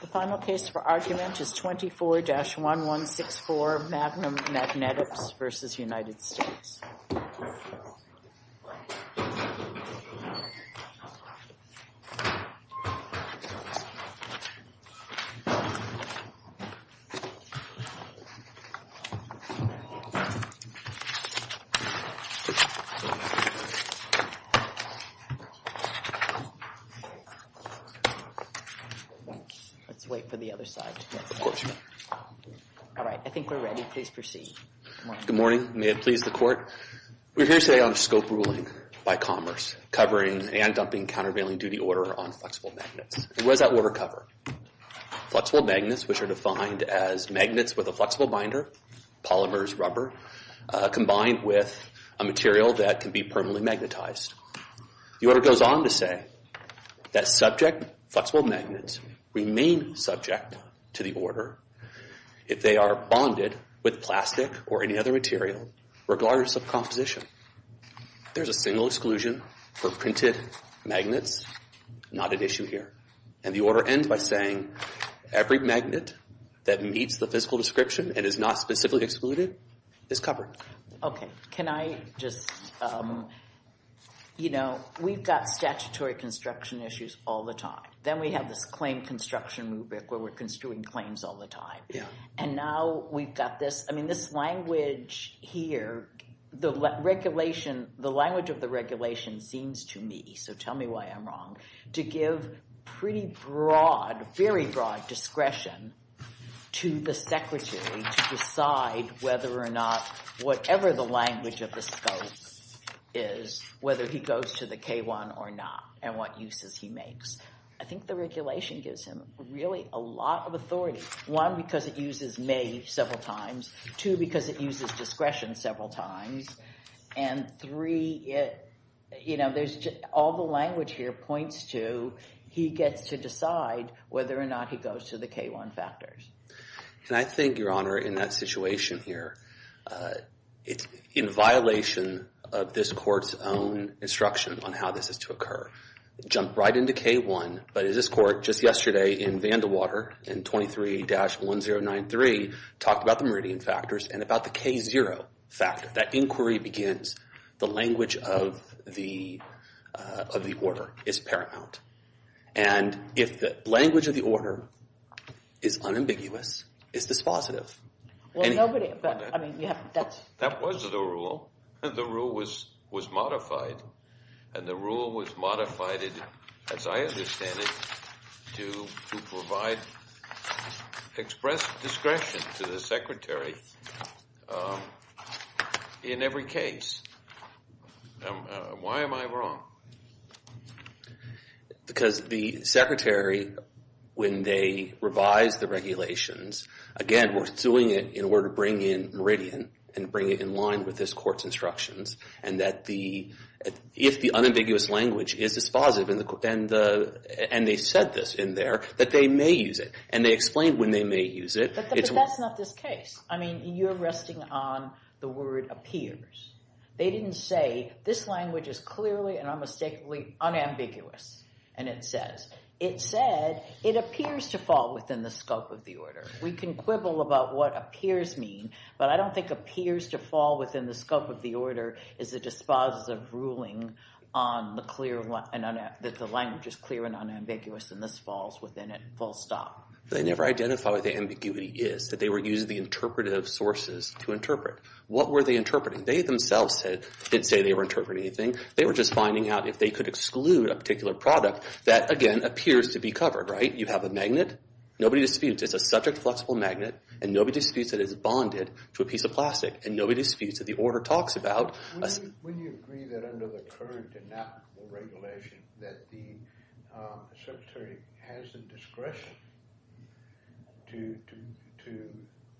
The final case for argument is 24-1164 Magnum Magnetics v. United States. We are here today on a scope ruling by Commerce covering and dumping countervailing duty order on flexible magnets. What does that order cover? Flexible magnets, which are defined as magnets with a flexible binder, polymers, rubber, combined with a material that can be permanently magnetized. The order goes on to say that subject flexible magnets remain subject to the order if they are bonded with plastic or any other material regardless of composition. There's a single exclusion for printed magnets, not an issue here. And the order ends by saying every magnet that meets the physical description and is not specifically excluded is covered. Okay, can I just, you know, we've got statutory construction issues all the time. Then we have this claim construction movement where we're construing claims all the time. And now we've got this, I mean, this language here, the regulation, the language of the regulation seems to me, so tell me why I'm wrong, to give pretty broad, very broad discretion to the secretary to decide whether or not, whatever the language of the scope is, whether he goes to the K-1 or not and what uses he makes. I think the regulation gives him really a lot of authority, one, because it uses may several times, two, because it uses discretion several times, and three, you know, all the language here points to he gets to decide whether or not he goes to the K-1 factors. And I think, Your Honor, in that situation here, it's in violation of this court's own instruction on how this is to occur. Jump right into K-1, but this court just yesterday in Vandewater in 23-1093 talked about the meridian factors and about the K-0 factor. If that inquiry begins, the language of the order is paramount. And if the language of the order is unambiguous, it's dispositive. Well, nobody, I mean, you have, that's. That was the rule. And the rule was modified, and the rule was modified, as I understand it, to provide express discretion to the secretary in every case. Why am I wrong? Because the secretary, when they revise the regulations, again, we're doing it in order to bring in meridian and bring it in line with this court's instructions, and that the, if the unambiguous language is dispositive, and they said this in there, that they may use it. And they explained when they may use it, it's. But that's not this case. I mean, you're resting on the word appears. They didn't say, this language is clearly and unmistakably unambiguous. And it says, it said, it appears to fall within the scope of the order. We can quibble about what appears mean, but I don't think appears to fall within the scope of the order is a dispositive ruling on the clear, that the language is clear and unambiguous and this falls within it, full stop. They never identify what the ambiguity is, that they were using the interpretive sources to interpret. What were they interpreting? They themselves didn't say they were interpreting anything. They were just finding out if they could exclude a particular product that, again, appears to be covered, right? You have a magnet. Nobody disputes. It's a subject-flexible magnet, and nobody disputes that it is bonded to a piece of plastic, and nobody disputes that the order talks about. Would you agree that under the current enactable regulation, that the secretary has the discretion to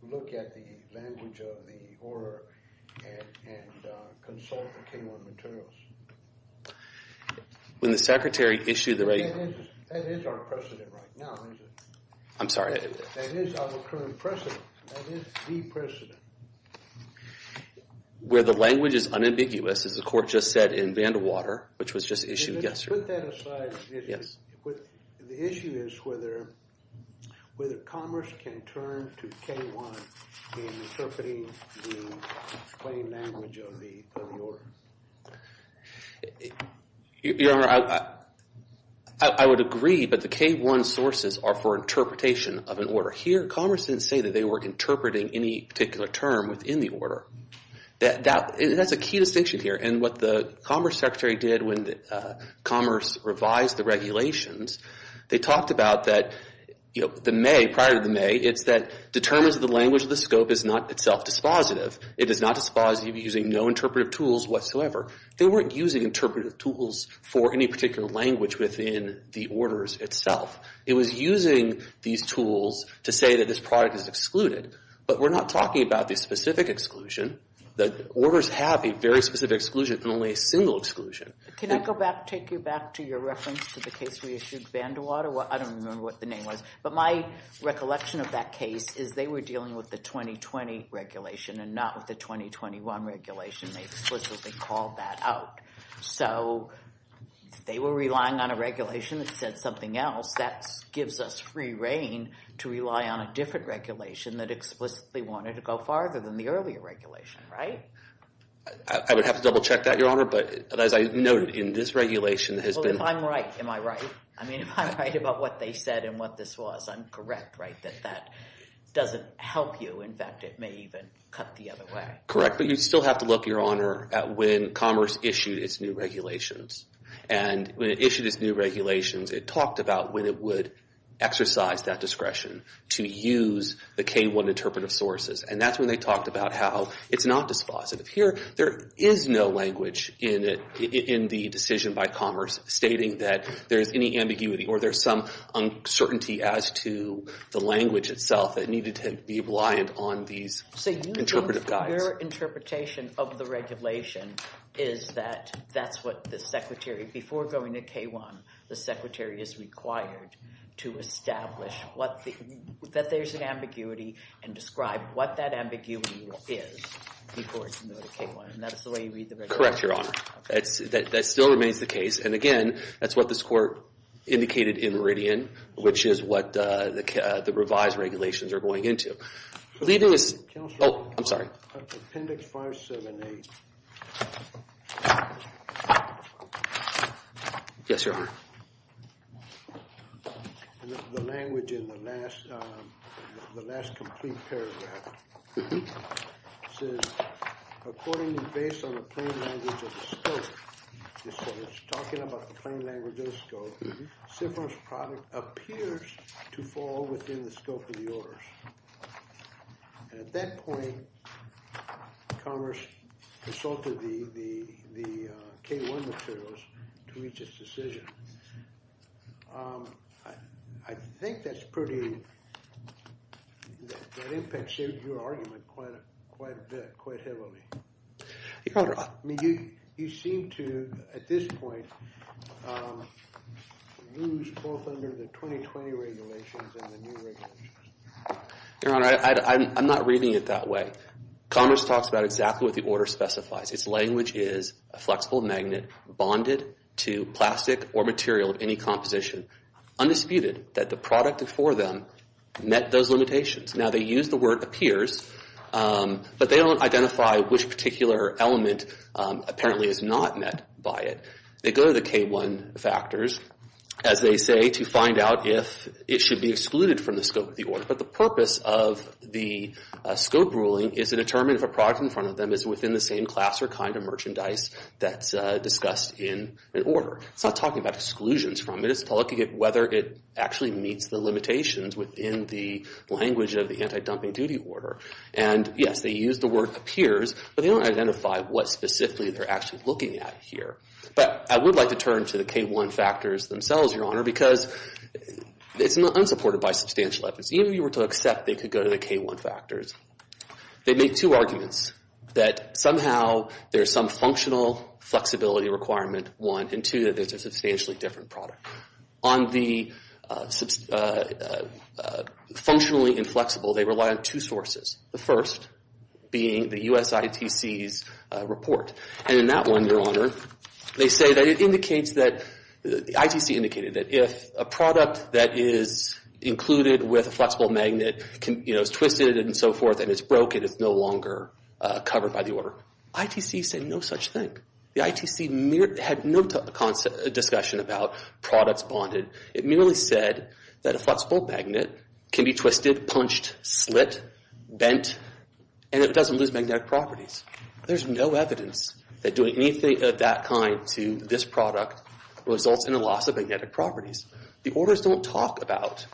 look at the language of the order and consult the K-1 materials? When the secretary issued the right... That is our precedent right now, isn't it? I'm sorry. That is our current precedent. That is the precedent. Where the language is unambiguous, as the court just said in Vandewater, which was just issued yesterday. Let's put that aside. Yes. The issue is whether Commerce can turn to K-1 in interpreting the plain language of the order. Your Honor, I would agree, but the K-1 sources are for interpretation of an order. Here, Commerce didn't say that they were interpreting any particular term within the order. That's a key distinction here. What the Commerce secretary did when Commerce revised the regulations, they talked about that prior to May, it's that determines the language of the scope is not itself dispositive. It is not dispositive using no interpretive tools whatsoever. They weren't using interpretive tools for any particular language within the orders itself. It was using these tools to say that this product is excluded, but we're not talking about the specific exclusion. The orders have a very specific exclusion and only a single exclusion. Can I go back, take you back to your reference to the case we issued in Vandewater? I don't remember what the name was, but my recollection of that case is they were dealing with the 2020 regulation and not with the 2021 regulation. They explicitly called that out. If they were relying on a regulation that said something else, that gives us free reign to rely on a different regulation that explicitly wanted to go farther than the earlier regulation. I would have to double check that, Your Honor, but as I noted, in this regulation, If I'm right, am I right? If I'm right about what they said and what this was, I'm correct that that doesn't help you. In fact, it may even cut the other way. Correct, but you still have to look, Your Honor, at when Commerce issued its new regulations. When it issued its new regulations, it talked about when it would exercise that discretion to use the K-1 interpretive sources. That's when they talked about how it's not dispositive. Here, there is no language in the decision by Commerce stating that there's any ambiguity or there's some uncertainty as to the language itself that needed to be reliant on these interpretive guides. Your interpretation of the regulation is that that's what the Secretary, before going to K-1, the Secretary is required to establish that there's an ambiguity and describe what that ambiguity is before going to K-1. And that's the way you read the regulation? Correct, Your Honor. That still remains the case, and again, that's what this Court indicated in Meridian, which is what the revised regulations are going into. Leading us... Counselor. Oh, I'm sorry. Appendix 578. Yes, Your Honor. The language in the last, the last complete paragraph. It says, according and based on the plain language of the scope, it's talking about the plain language of the scope, SIPROM's product appears to fall within the scope of the orders. And at that point, Commerce consulted the K-1 materials to reach its decision. I think that's pretty, that impacts your argument quite heavily. Your Honor... I mean, you seem to, at this point, lose both under the 2020 regulations and the new regulations. Your Honor, I'm not reading it that way. Commerce talks about exactly what the order specifies. Its language is a flexible magnet bonded to plastic or material of any composition. Undisputed that the product before them met those limitations. Now, they use the word appears, but they don't identify which particular element apparently is not met by it. They go to the K-1 factors, as they say, to find out if it should be excluded from the scope of the order. But the purpose of the scope ruling is to determine if a product in front of them is within the same class or kind of merchandise that's discussed in an order. It's not talking about exclusions from it. It's looking at whether it actually meets the limitations within the language of the anti-dumping duty order. And, yes, they use the word appears, but they don't identify what specifically they're actually looking at here. But I would like to turn to the K-1 factors themselves, Your Honor, because it's unsupported by substantial evidence. Even if you were to accept they could go to the K-1 factors, they make two arguments. That somehow there's some functional flexibility requirement, one. And, two, that it's a substantially different product. On the functionally inflexible, they rely on two sources. The first being the US ITC's report. And in that one, Your Honor, they say that it indicates that, the ITC indicated that if a product that is included with a flexible magnet is twisted and so forth and it's broken, it's no longer covered by the order. ITC said no such thing. The ITC had no discussion about products bonded. It merely said that a flexible magnet can be twisted, punched, slit, bent, and it doesn't lose magnetic properties. There's no evidence that doing anything of that kind to this product results in a loss of magnetic properties. The orders don't talk about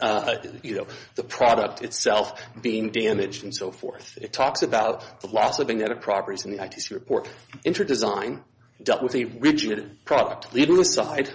the product itself being damaged and so forth. It talks about the loss of magnetic properties in the ITC report. Interdesign dealt with a rigid product. Leaving aside,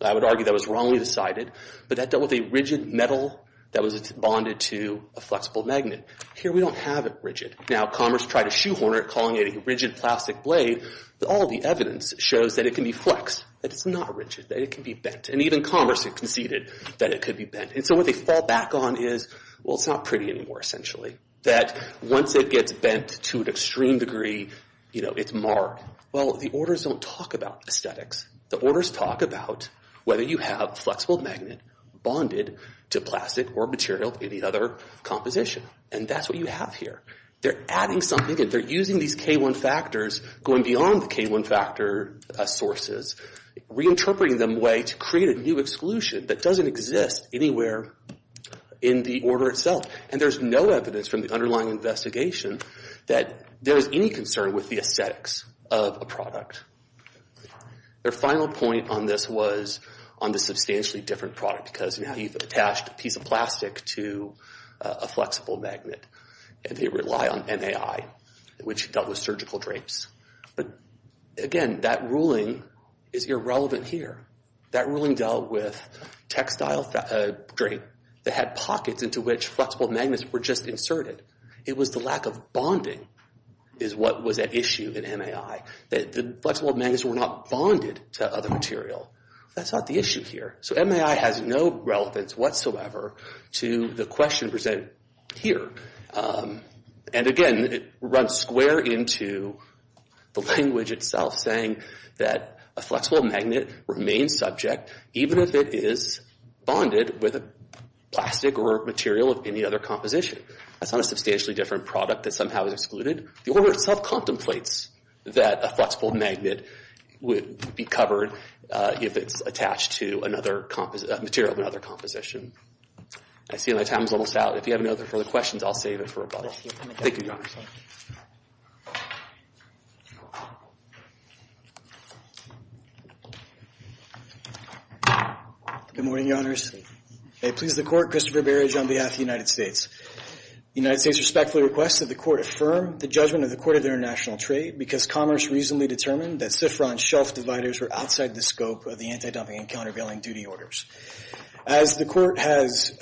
I would argue that was wrongly decided, but that dealt with a rigid metal that was bonded to a flexible magnet. Here we don't have it rigid. Now Commerce tried to shoehorner it, calling it a rigid plastic blade, but all the evidence shows that it can be flexed, that it's not rigid, that it can be bent. And even Commerce conceded that it could be bent. And so what they fall back on is, well, it's not pretty anymore, essentially. That once it gets bent to an extreme degree, you know, it's marred. Well, the orders don't talk about aesthetics. The orders talk about whether you have flexible magnet bonded to plastic or material, any other composition. And that's what you have here. They're adding something and they're using these K1 factors going beyond the K1 factor sources, reinterpreting them in a way to create a new exclusion that doesn't exist anywhere in the order itself. And there's no evidence from the underlying investigation that there's any concern with the aesthetics of a product. Their final point on this was on the substantially different product, because now you've attached a piece of plastic to a flexible magnet and they rely on NAI, which dealt with surgical drapes. But again, that ruling is irrelevant here. That ruling dealt with textile drape that had pockets into which flexible magnets were just inserted. It was the lack of bonding is what was at issue in NAI. The flexible magnets were not bonded to other material. That's not the issue here. So NAI has no relevance whatsoever to the question presented here. And again, it runs square into the language itself, saying that a flexible magnet remains subject even if it is bonded with a plastic or material of any other composition. That's not a substantially different product that somehow is excluded. The order itself contemplates that a flexible magnet would be covered if it's attached to another material of another composition. I see my time is almost out. If you have any other further questions, I'll save it for above. Thank you, Your Honor. Good morning, Your Honors. May it please the Court, Christopher Berridge on behalf of the United States. The United States respectfully requests that the Court affirm the judgment of the Court of International Trade because Commerce reasonably determined that Sifron shelf dividers were outside the scope of the anti-dumping and countervailing duty orders. As the Court has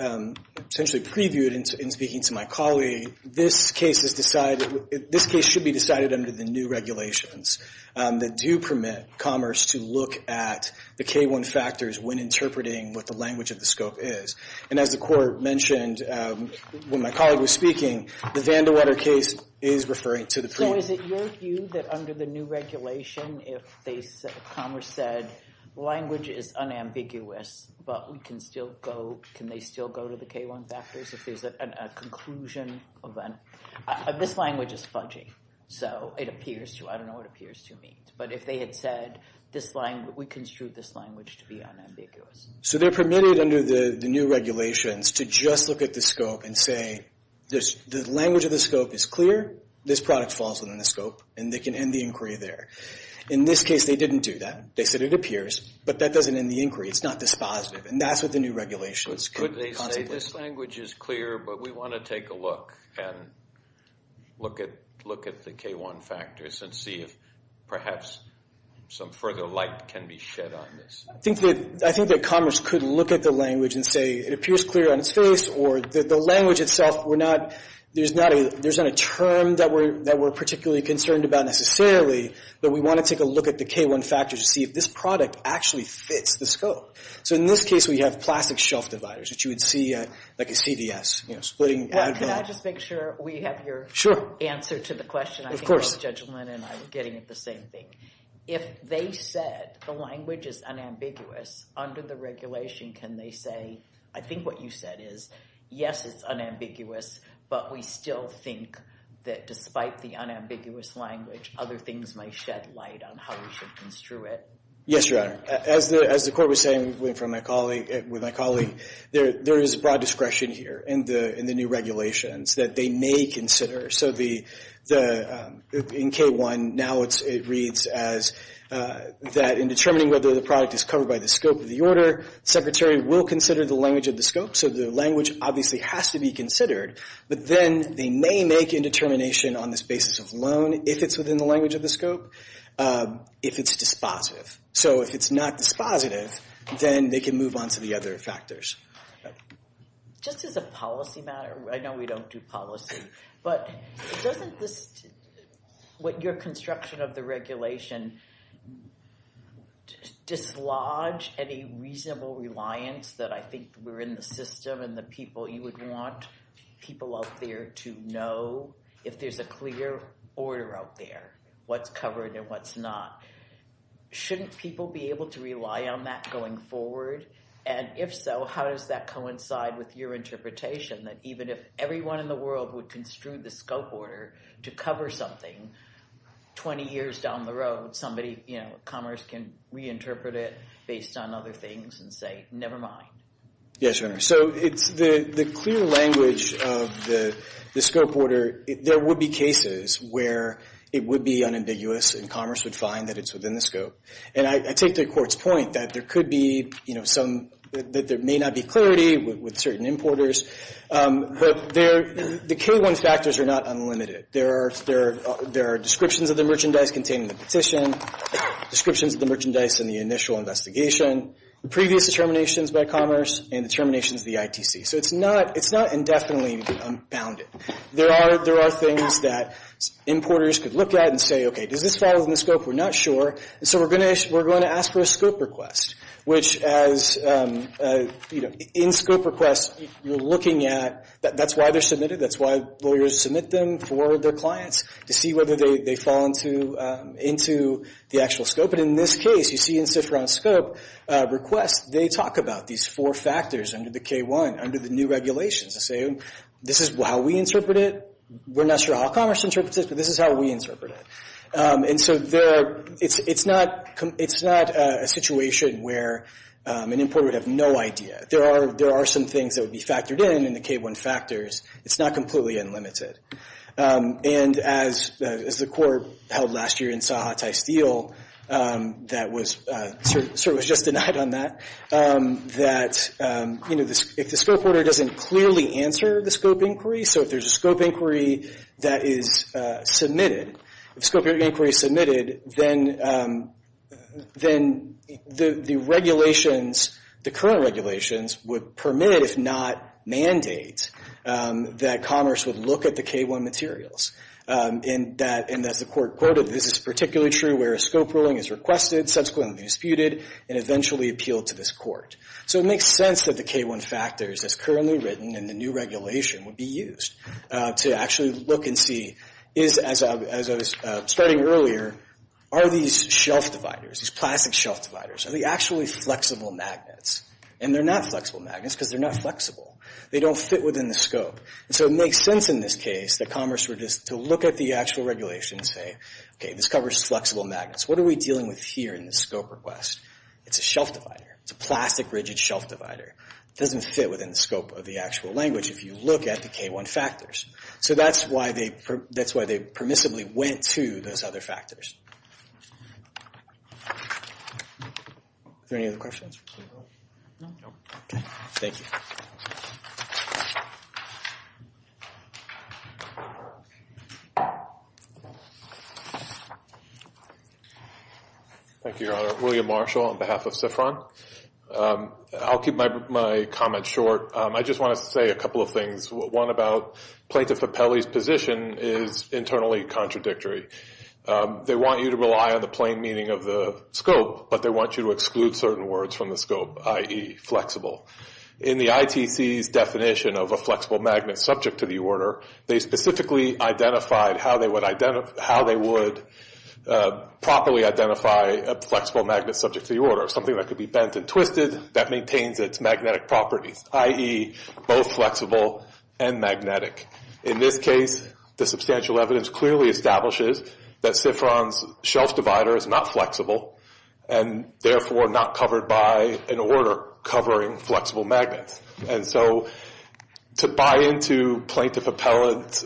essentially previewed in speaking to my colleague, this case should be decided under the new regulations that do permit Commerce to look at the K-1 factors when interpreting what the language of the scope is. And as the Court mentioned when my colleague was speaking, the Vandewetter case is referring to the preview. So is it your view that under the new regulation if Commerce said, language is unambiguous, but we can still go, can they still go to the K-1 factors if there's a conclusion event? This language is fudgy. So it appears to, I don't know what appears to mean. But if they had said, we construed this language to be unambiguous. So they're permitted under the new regulations to just look at the scope and say, the language of the scope is clear, this product falls within the scope and they can end the inquiry there. In this case, they didn't do that. They said it appears, but that doesn't end the inquiry. It's not dispositive. And that's what the new regulations. Could they say this language is clear but we want to take a look and look at the K-1 factors and see if perhaps some further light can be shed on this. I think that Commerce could look at the language and say it appears clear on its face or that the language itself there's not a term that we're particularly concerned about necessarily but we want to take a look at the K-1 factors to see if this product actually fits the scope. So in this case we have plastic shelf dividers that you would see at CVS. Can I just make sure we have your answer to the question? If they said the language is unambiguous under the regulation can they say I think what you said is yes it's unambiguous but we still think that despite the unambiguous language other things might shed light on how we should construe it. As the court was saying with my colleague there is broad discretion here in the new regulations that they may consider in K-1 now it reads as that in determining whether the product is covered by the scope of the order secretary will consider the language of the scope so the language obviously has to be considered but then they may make a determination on this basis of loan if it's within the language of the scope if it's dispositive so if it's not dispositive then they can move on to the other factors Just as a policy matter I know we don't do policy but doesn't this what your construction of the regulation dislodge any reasonable reliance that I think we're in the system and the people you would want people out there to know if there's a clear order out there what's covered and what's not shouldn't people be able to rely on that going forward and if so how does that coincide with your interpretation that even if everyone in the world would construe the scope order to cover something 20 years down the road somebody Commerce can reinterpret it based on other things and say never mind Yes, so the clear language of the scope order there would be cases where it would be unambiguous and Commerce would find that it's within the scope and I take the court's point that there could be that there may not be clarity with certain importers but the K1 factors are not unlimited there are descriptions of the merchandise containing the petition descriptions of the merchandise in the initial investigation, previous determinations by Commerce and determinations of the ITC so it's not indefinitely unbounded there are things that importers could look at and say does this fall within the scope? We're not sure so we're going to ask for a scope request which as in scope requests you're looking at that's why they're submitted, that's why lawyers submit them for their clients to see whether they fall into the actual scope and in this case you see in SIFRA on scope they talk about these four factors under the K1, under the new regulations this is how we interpret it we're not sure how Commerce interprets it but this is how we interpret it and so there are it's not a situation where an importer would have no idea there are some things that would be factored in in the K1 factors it's not completely unlimited and as the court held last year in Sahatai Steel that was sort of was just denied on that that if the scope order doesn't clearly answer the scope inquiry so if there's a scope inquiry that is submitted if scope inquiry is submitted then the regulations the current regulations would permit if not mandate that Commerce would look at the K1 materials and as the court quoted this is particularly true where a scope ruling is requested subsequently disputed and eventually appealed to this court so it makes sense that the K1 factors that's currently written in the new regulation would be used to actually look and see is as I was studying earlier are these shelf dividers are they actually flexible magnets and they're not flexible magnets because they're not flexible they don't fit within the scope so it makes sense in this case that Commerce would look at the actual regulations and say this covers flexible magnets what are we dealing with here in the scope request it's a shelf divider it's a plastic rigid shelf divider it doesn't fit within the scope of the actual language if you look at the K1 factors so that's why they permissibly went to those other factors are there any other questions thank you thank you your honor William Marshall on behalf of SIFRON I'll keep my comments short I just want to say a couple of things one about Plaintiff Apelli's position is internally contradictory they want you to rely on the plain meaning of the scope but they want you to exclude certain words from the scope i.e. flexible in the ITC's definition of a flexible magnet subject to the order they specifically identified how they would properly identify a flexible magnet subject to the order something that could be bent and twisted that maintains its magnetic properties i.e. both flexible and magnetic in this case the substantial evidence clearly establishes that SIFRON's shelf divider is not flexible and therefore not covered by an order covering flexible magnets and so to buy into Plaintiff Apelli's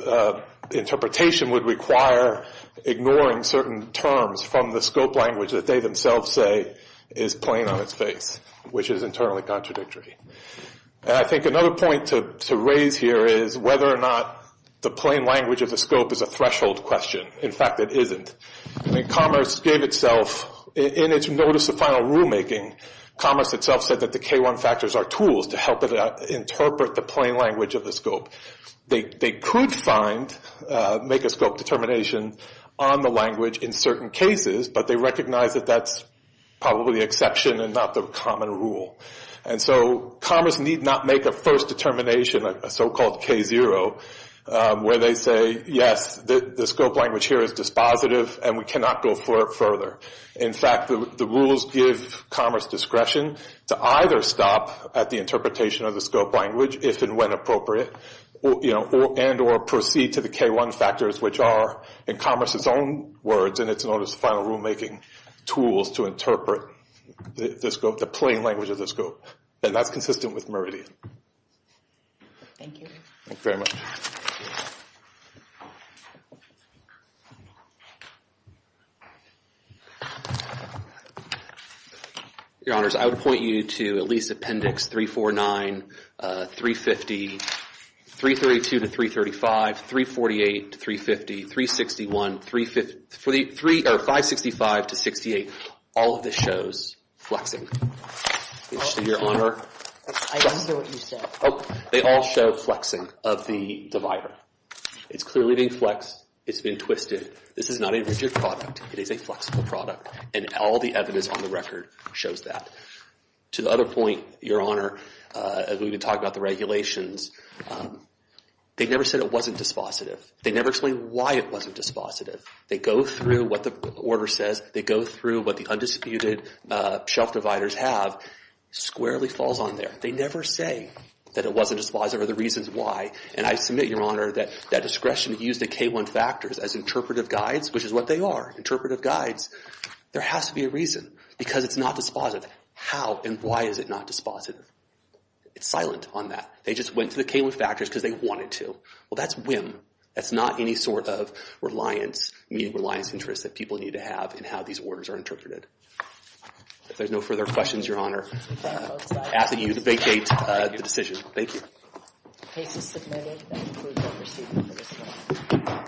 interpretation would require ignoring certain terms from the scope language that they themselves say is plain on its face which is internally contradictory another point to raise here is whether or not the plain language of the scope is a threshold question in fact it isn't commerce gave itself in its notice of final rule making commerce itself said that the K1 factors are tools to help interpret the plain language of the scope they could find make a scope determination on the language in certain cases but they recognize that that's probably an exception and not the common rule and so commerce need not make a first determination a so called K0 where they say yes the scope language here is dispositive and we cannot go further in fact the rules give commerce discretion to either stop at the interpretation of the scope language if and when appropriate and or proceed to the K1 factors which are in commerce its own words in its notice of final rule making tools to interpret the plain language of the scope and that's consistent with Meridian thank you very much your honors I would point you to at least appendix 349 350 332 to 335 348 to 350 361 565 to 68 all of this shows flexing your honor I didn't hear what you said they all show flexing of the divider it's clearly being flexed it's been twisted this is not a rigid product it is a flexible product and all the evidence on the record shows that to the other point your honor we've been talking about the regulations they never said it wasn't dispositive they never explained why it wasn't dispositive they go through what the order says they go through what the undisputed shelf dividers have squarely falls on there they never say that it wasn't dispositive or the reasons why and I submit your honor that discretion used the K1 factors as interpretive guides which is what they are interpretive guides there has to be a reason because it's not dispositive how and why is it not dispositive it's silent on that they just went to the K1 factors because they wanted to well that's whim that's not any sort of reliance meaning reliance interest that people need to have in how these orders are interpreted if there's no further questions your honor asking you to vacate the decision thank you